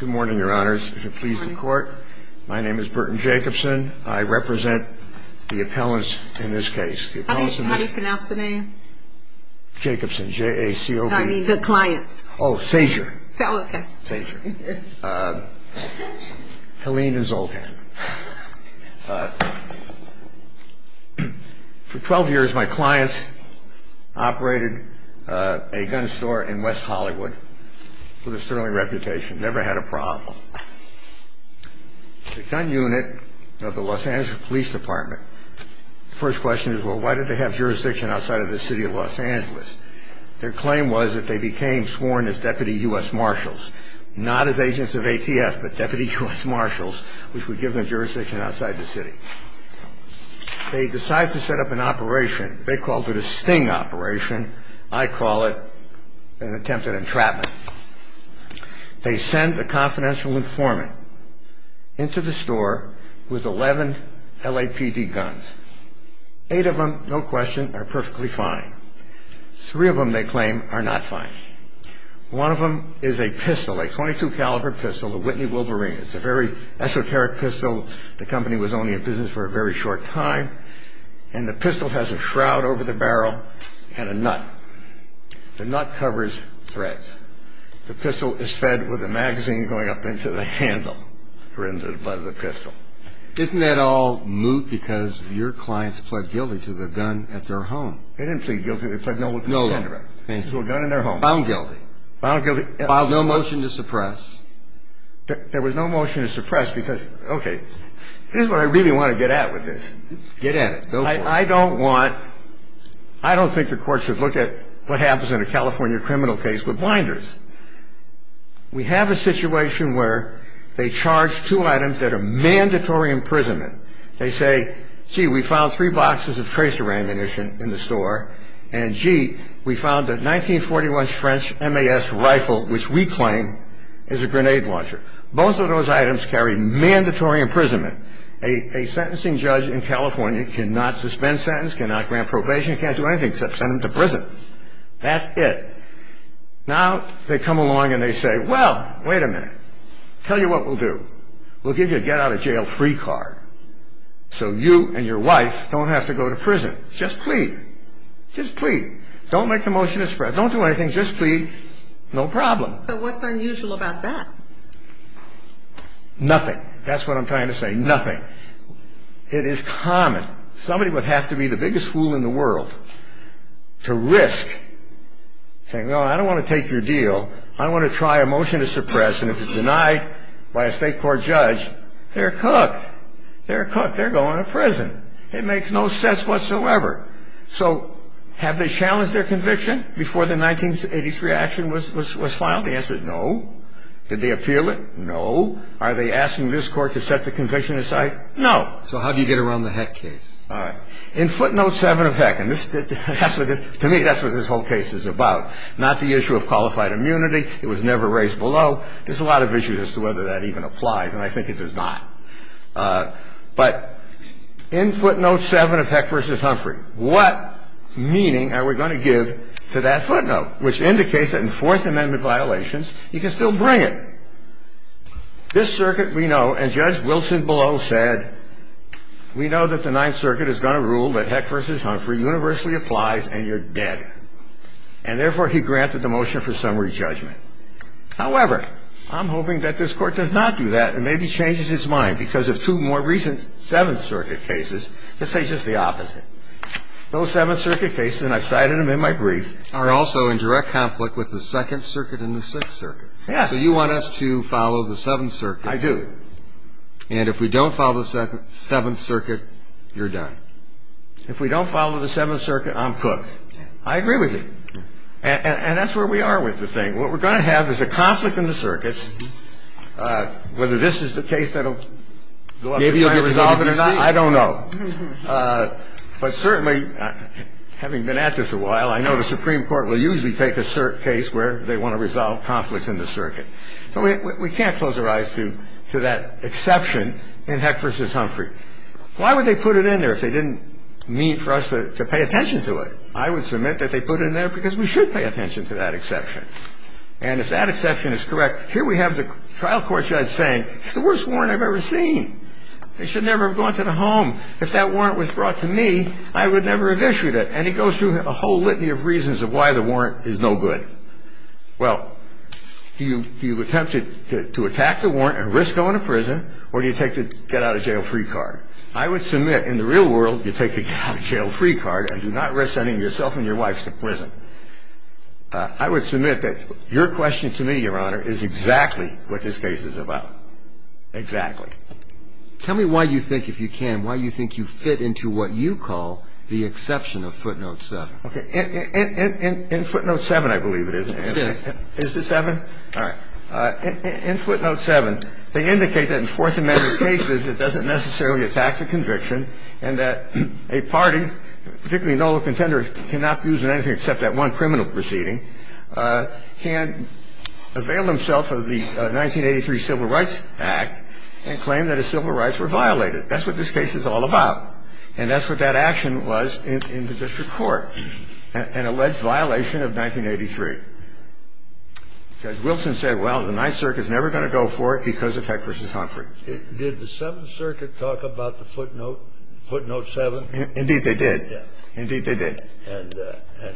Good morning, your honors. My name is Burton Jacobson. I represent the appellants in this case. How do you pronounce the name? Jacobson. J-A-C-O-B. I mean the clients. Oh, Szajer. Oh, okay. Szajer. Helene and Zoltan. For 12 years, my clients operated a gun store in West Hollywood. With a sterling reputation. Never had a problem. The gun unit of the Los Angeles Police Department. First question is, well, why did they have jurisdiction outside of the city of Los Angeles? Their claim was that they became sworn as Deputy U.S. Marshals. Not as agents of ATF, but Deputy U.S. Marshals, which would give them jurisdiction outside the city. They decided to set up an operation. They called it a sting operation. I call it an attempted entrapment. They send a confidential informant into the store with 11 LAPD guns. Eight of them, no question, are perfectly fine. Three of them, they claim, are not fine. One of them is a pistol, a .22 caliber pistol, a Whitney Wolverine. It's a very esoteric pistol. The company was only in business for a very short time. And the pistol has a shroud over the barrel and a nut. The nut covers threads. The pistol is fed with a magazine going up into the handle, or into the butt of the pistol. Isn't that all moot because your clients pled guilty to the gun at their home? They didn't plead guilty. They pled no... No. To a gun in their home. Found guilty. Found guilty. Filed no motion to suppress. There was no motion to suppress because, okay. Here's what I really want to get at with this. Get at it. I don't want... I don't think the court should look at what happens in a California criminal case with blinders. We have a situation where they charge two items that are mandatory imprisonment. They say, gee, we found three boxes of tracer ammunition in the store. And, gee, we found a 1941 French MAS rifle, which we claim is a grenade launcher. Both of those items carry mandatory imprisonment. A sentencing judge in California cannot suspend sentence, cannot grant probation, can't do anything except send them to prison. That's it. Now they come along and they say, well, wait a minute. Tell you what we'll do. We'll give you a get-out-of-jail-free card so you and your wife don't have to go to prison. Just plead. Just plead. Don't make the motion to suppress. Don't do anything. Just plead. No problem. So what's unusual about that? Nothing. That's what I'm trying to say. Nothing. It is common. Somebody would have to be the biggest fool in the world to risk saying, well, I don't want to take your deal. I want to try a motion to suppress. And if it's denied by a state court judge, they're cooked. They're cooked. They're going to prison. It makes no sense whatsoever. So have they challenged their conviction before the 1983 action was filed? The answer is no. Did they appeal it? No. Are they asking this Court to set the conviction aside? No. So how do you get around the Heck case? All right. In footnote 7 of Heck, and to me that's what this whole case is about, not the issue of qualified immunity. It was never raised below. There's a lot of issues as to whether that even applies, and I think it does not. But in footnote 7 of Heck v. Humphrey, what meaning are we going to give to that footnote, which indicates that in Fourth Amendment violations, you can still bring it. This circuit we know, and Judge Wilson below said, we know that the Ninth Circuit is going to rule that Heck v. Humphrey universally applies and you're dead. And therefore, he granted the motion for summary judgment. However, I'm hoping that this Court does not do that and maybe changes its mind, because of two more recent Seventh Circuit cases that say just the opposite. Those Seventh Circuit cases, and I've cited them in my brief, are also in direct conflict with the Second Circuit and the Sixth Circuit. So you want us to follow the Seventh Circuit. I do. And if we don't follow the Seventh Circuit, you're done. If we don't follow the Seventh Circuit, I'm cooked. I agree with you. And that's where we are with the thing. What we're going to have is a conflict in the circuits. Whether this is the case that will go up to the plaintiff's committee to see. I don't know. But certainly, having been at this a while, I know the Supreme Court will usually take a case where they want to resolve conflicts in the circuit. So we can't close our eyes to that exception in Heck v. Humphrey. Why would they put it in there if they didn't mean for us to pay attention to it? I would submit that they put it in there because we should pay attention to that exception. And if that exception is correct, here we have the trial court judge saying, it's the worst warrant I've ever seen. They should never have gone to the home. If that warrant was brought to me, I would never have issued it. And he goes through a whole litany of reasons of why the warrant is no good. Well, do you attempt to attack the warrant and risk going to prison, or do you take the get-out-of-jail-free card? I would submit, in the real world, you take the get-out-of-jail-free card and do not risk sending yourself and your wife to prison. I would submit that your question to me, Your Honor, is exactly what this case is about. Exactly. Tell me why you think, if you can, why you think you fit into what you call the exception of footnote 7. Okay. In footnote 7, I believe it is. It is. Is it 7? All right. In footnote 7, they indicate that in Fourth Amendment cases, it doesn't necessarily attack the conviction and that a party, particularly no contender cannot use in anything except that one criminal proceeding, can avail himself of the 1983 Civil Rights Act and claim that his civil rights were violated. That's what this case is all about. And that's what that action was in the district court, an alleged violation of 1983. Judge Wilson said, well, the Ninth Circuit is never going to go for it because of Heck v. Humphrey. Did the Seventh Circuit talk about the footnote, footnote 7? Indeed, they did. Indeed, they did. And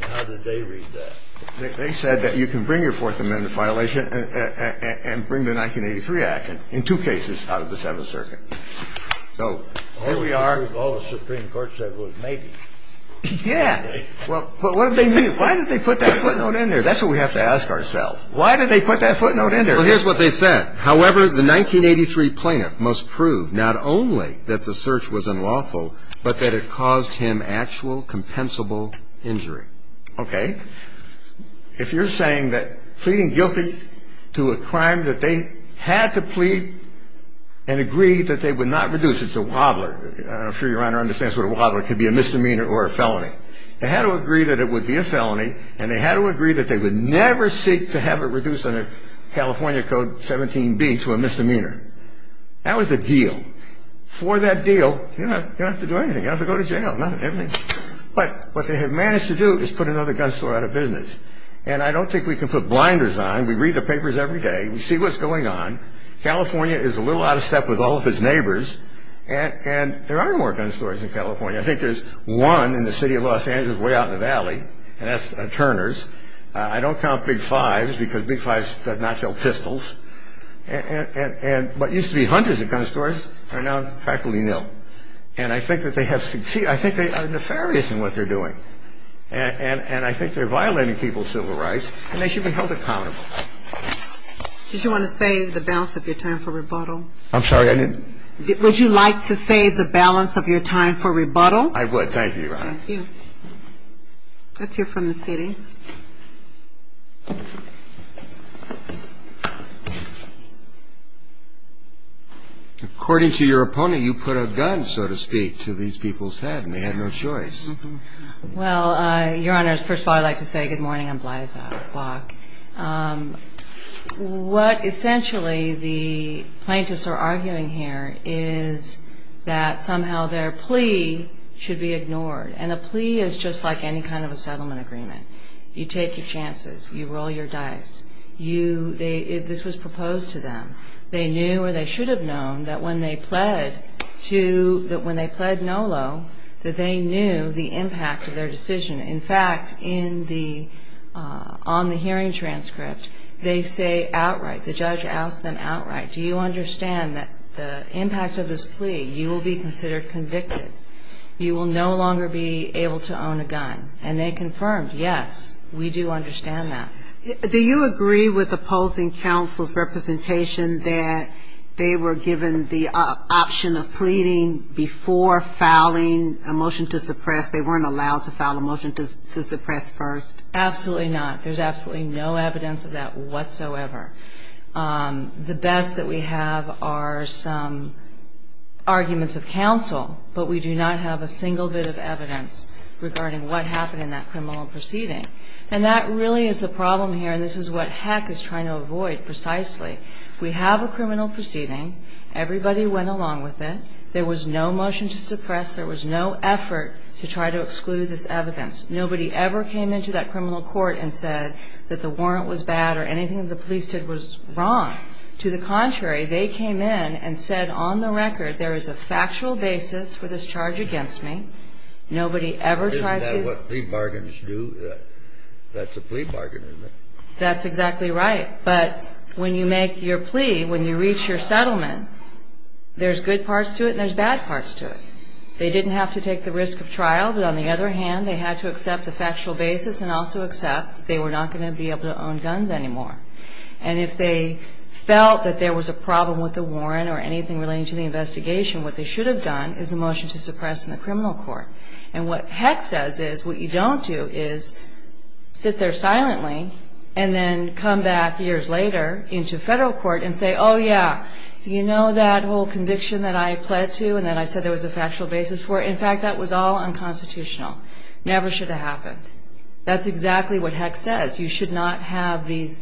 how did they read that? They said that you can bring your Fourth Amendment violation and bring the 1983 action in two cases out of the Seventh Circuit. So here we are. All the Supreme Court said was maybe. Yeah. But what did they mean? Why did they put that footnote in there? That's what we have to ask ourselves. Why did they put that footnote in there? Well, here's what they said. However, the 1983 plaintiff must prove not only that the search was unlawful, but that it caused him actual compensable injury. Okay. If you're saying that pleading guilty to a crime that they had to plead and agree that they would not reduce, it's a wobbler, I'm sure Your Honor understands what a wobbler could be, a misdemeanor or a felony. They had to agree that it would be a felony, and they had to agree that they would never seek to have it reduced under California Code 17B to a misdemeanor. That was the deal. For that deal, you don't have to do anything. You don't have to go to jail. But what they have managed to do is put another gun store out of business. And I don't think we can put blinders on. We read the papers every day. We see what's going on. California is a little out of step with all of its neighbors, and there are more gun stores in California. I think there's one in the city of Los Angeles way out in the valley, and that's Turner's. I don't count Big Fives because Big Fives does not sell pistols. And what used to be hundreds of gun stores are now practically nil. And I think that they have succeeded. I think they are nefarious in what they're doing. And I think they're violating people's civil rights, and they should be held accountable. Did you want to say the balance of your time for rebuttal? I'm sorry, I didn't. Would you like to say the balance of your time for rebuttal? I would. Thank you, Your Honor. Thank you. Let's hear from the city. According to your opponent, you put a gun, so to speak, to these people's head, and they had no choice. Well, Your Honor, first of all, I'd like to say good morning. I'm Blythe Block. What essentially the plaintiffs are arguing here is that somehow their plea should be ignored. And a plea is just like any kind of a settlement agreement. You take your chances. You roll your dice. This was proposed to them. They knew, or they should have known, that when they pled NOLO, that they knew the impact of their decision. In fact, on the hearing transcript, they say outright, the judge asked them outright, do you understand that the impact of this plea, you will be considered convicted. You will no longer be able to own a gun. And they confirmed, yes, we do understand that. Do you agree with opposing counsel's representation that they were given the option of pleading before filing a motion to suppress? They weren't allowed to file a motion to suppress first? Absolutely not. There's absolutely no evidence of that whatsoever. The best that we have are some arguments of counsel, but we do not have a single bit of evidence regarding what happened in that criminal proceeding. And that really is the problem here, and this is what Heck is trying to avoid precisely. We have a criminal proceeding. Everybody went along with it. There was no motion to suppress. There was no effort to try to exclude this evidence. Nobody ever came into that criminal court and said that the warrant was bad or anything the police did was wrong. To the contrary, they came in and said on the record, there is a factual basis for this charge against me. Nobody ever tried to ---- Isn't that what plea bargains do? That's a plea bargain, isn't it? That's exactly right. But when you make your plea, when you reach your settlement, there's good parts to it and there's bad parts to it. They didn't have to take the risk of trial, but on the other hand, they had to accept the factual basis and also accept they were not going to be able to own guns anymore. And if they felt that there was a problem with the warrant or anything relating to the investigation, what they should have done is the motion to suppress in the criminal court. And what Heck says is what you don't do is sit there silently and then come back years later into Federal court and say, oh, yeah, you know that whole conviction that I pled to and that I said there was a factual basis for it? In fact, that was all unconstitutional. Never should have happened. That's exactly what Heck says. You should not have these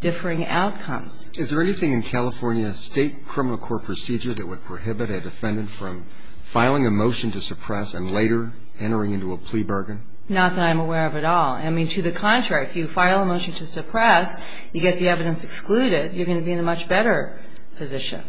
differing outcomes. Is there anything in California state criminal court procedure that would prohibit a defendant from filing a motion to suppress and later entering into a plea bargain? Not that I'm aware of at all. I mean, to the contrary, if you file a motion to suppress, you get the evidence excluded. You're going to be in a much better position.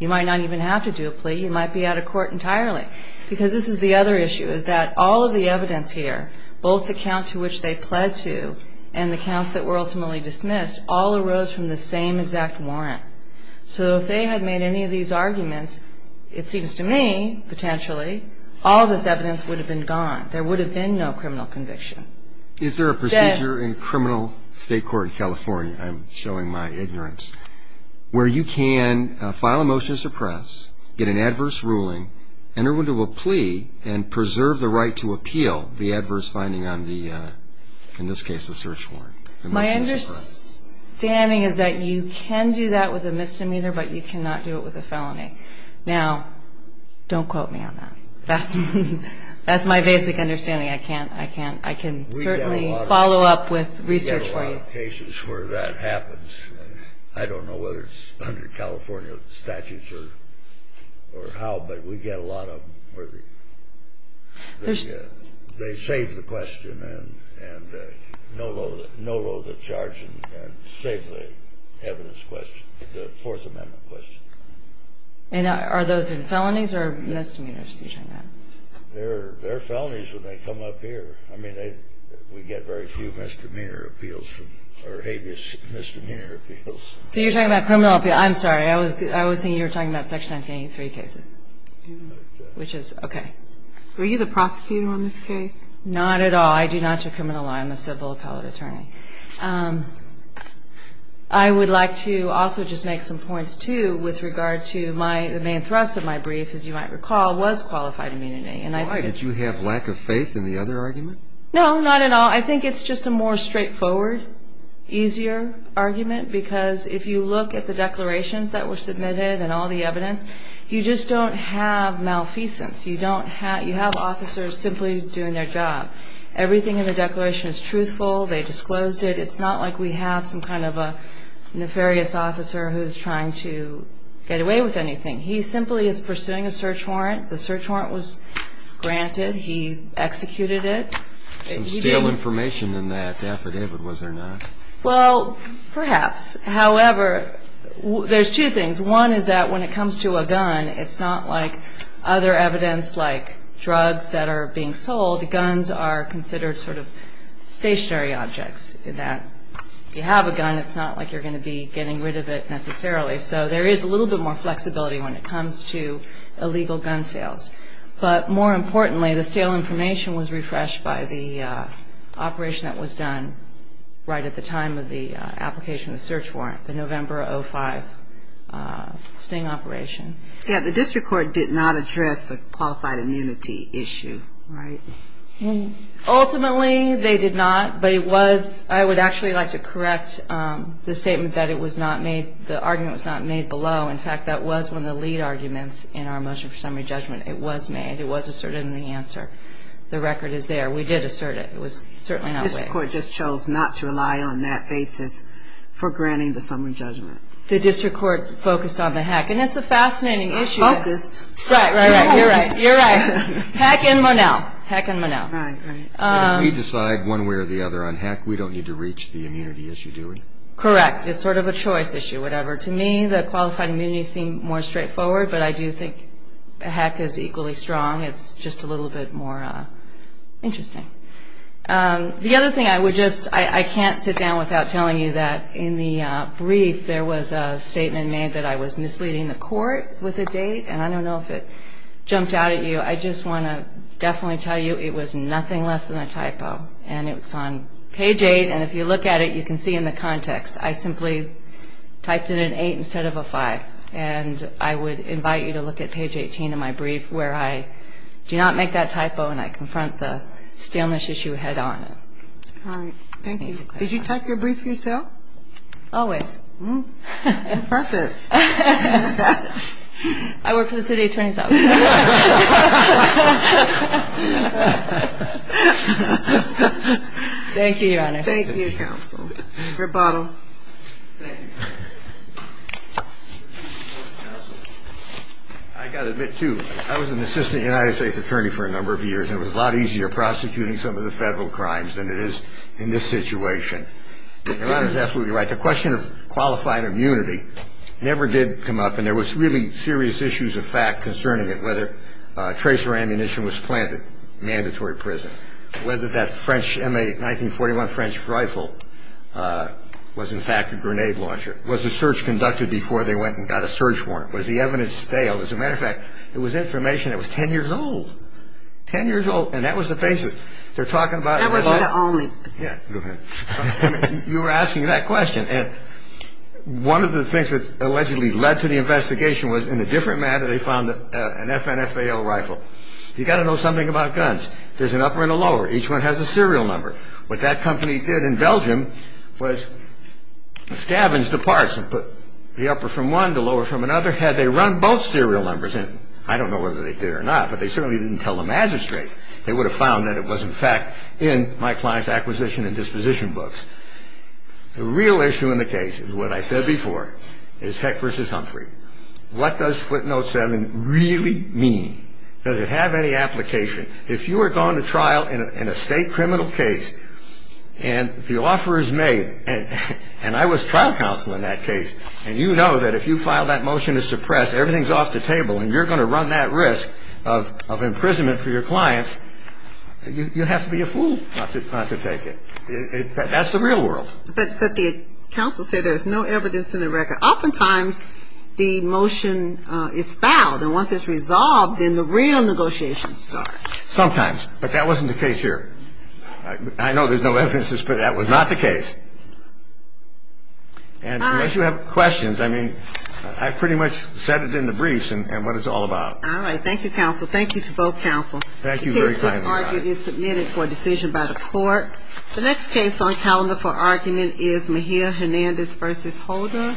You might not even have to do a plea. You might be out of court entirely. Because this is the other issue is that all of the evidence here, both the count to which they pled to and the counts that were ultimately dismissed, all arose from the same exact warrant. So if they had made any of these arguments, it seems to me, potentially, all of this evidence would have been gone. There would have been no criminal conviction. Is there a procedure in criminal state court in California? I'm showing my ignorance. Where you can file a motion to suppress, get an adverse ruling, enter into a plea, and preserve the right to appeal the adverse finding on the, in this case, the search warrant? My understanding is that you can do that with a misdemeanor, but you cannot do it with a felony. Now, don't quote me on that. That's my basic understanding. I can certainly follow up with research for you. There are a lot of cases where that happens. I don't know whether it's under California statutes or how, but we get a lot of them where they save the question and no-load the charge and save the evidence question, the Fourth Amendment question. And are those felonies or misdemeanors that you're talking about? They're felonies when they come up here. I mean, we get very few misdemeanor appeals or habeas misdemeanor appeals. So you're talking about criminal appeal. I'm sorry. I was thinking you were talking about Section 1983 cases, which is okay. Were you the prosecutor on this case? Not at all. I do not do criminal law. I'm a civil appellate attorney. I would like to also just make some points, too, with regard to my, the main thrust of my brief, as you might recall, was qualified immunity. Why? Did you have lack of faith in the other argument? No, not at all. I think it's just a more straightforward, easier argument because if you look at the declarations that were submitted and all the evidence, you just don't have malfeasance. You don't have, you have officers simply doing their job. Everything in the declaration is truthful. They disclosed it. It's not like we have some kind of a nefarious officer who's trying to get away with anything. He simply is pursuing a search warrant. The search warrant was granted. He executed it. Some stale information in that affidavit, was there not? Well, perhaps. However, there's two things. One is that when it comes to a gun, it's not like other evidence like drugs that are being sold. Guns are considered sort of stationary objects in that. If you have a gun, it's not like you're going to be getting rid of it necessarily. So there is a little bit more flexibility when it comes to illegal gun sales. But more importantly, the stale information was refreshed by the operation that was done right at the time of the application, the search warrant, the November 05 sting operation. Yeah, the district court did not address the qualified immunity issue, right? Ultimately, they did not, but it was, I would actually like to correct the statement that it was not made, the argument was not made below. In fact, that was one of the lead arguments in our motion for summary judgment. It was made. It was asserted in the answer. The record is there. We did assert it. It was certainly not waived. The district court just chose not to rely on that basis for granting the summary judgment. The district court focused on the hack. And that's a fascinating issue. Focused. Right, right, right. You're right. You're right. Hack in Monell. Hack in Monell. Right, right. If we decide one way or the other on hack, we don't need to reach the immunity issue, do we? Correct. It's sort of a choice issue, whatever. To me, the qualified immunity seemed more straightforward, but I do think hack is equally strong. It's just a little bit more interesting. The other thing I would just – I can't sit down without telling you that in the brief, there was a statement made that I was misleading the court with a date, and I don't know if it jumped out at you. I just want to definitely tell you it was nothing less than a typo, and it's on page 8, and if you look at it, you can see in the context. I simply typed in an 8 instead of a 5. And I would invite you to look at page 18 of my brief where I do not make that typo and I confront the staleness issue head on. All right. Thank you. Did you type your brief yourself? Always. I work for the city attorney's office. Thank you, Your Honor. Thank you, counsel. Rebuttal. Thank you. I got to admit, too, I was an assistant United States attorney for a number of years, and it was a lot easier prosecuting some of the federal crimes than it is in this situation. Your Honor is absolutely right. The question of qualified immunity never did come up, and there was really serious issues of fact concerning it, whether tracer ammunition was planted, mandatory prison, whether that 1941 French rifle was, in fact, a grenade launcher. Was the search conducted before they went and got a search warrant? Was the evidence stale? As a matter of fact, it was information that was 10 years old. Ten years old, and that was the basis. They're talking about... That wasn't the only. Yeah. You were asking that question, and one of the things that allegedly led to the investigation was, in a different manner, they found an FN FAL rifle. You've got to know something about guns. There's an upper and a lower. Each one has a serial number. What that company did in Belgium was scavenge the parts and put the upper from one, the lower from another, had they run both serial numbers in. I don't know whether they did or not, but they certainly didn't tell them as of straight. They would have found that it was, in fact, in my client's acquisition and disposition books. The real issue in the case is what I said before, is Heck v. Humphrey. What does footnote 7 really mean? Does it have any application? If you are going to trial in a state criminal case, and the offer is made, and I was trial counsel in that case, and you know that if you file that motion to suppress, everything's off the table, and you're going to run that risk of imprisonment for your clients, you have to be a fool not to take it. That's the real world. But the counsel said there's no evidence in the record. Oftentimes the motion is filed, and once it's resolved, then the real negotiations start. Sometimes. But that wasn't the case here. I know there's no evidence, but that was not the case. All right. And unless you have questions, I mean, I pretty much said it in the briefs and what it's all about. All right. Thank you, counsel. Thank you to both counsel. Thank you very kindly. The case for argument is submitted for decision by the court. The next case on calendar for argument is Mejia Hernandez v. Holder.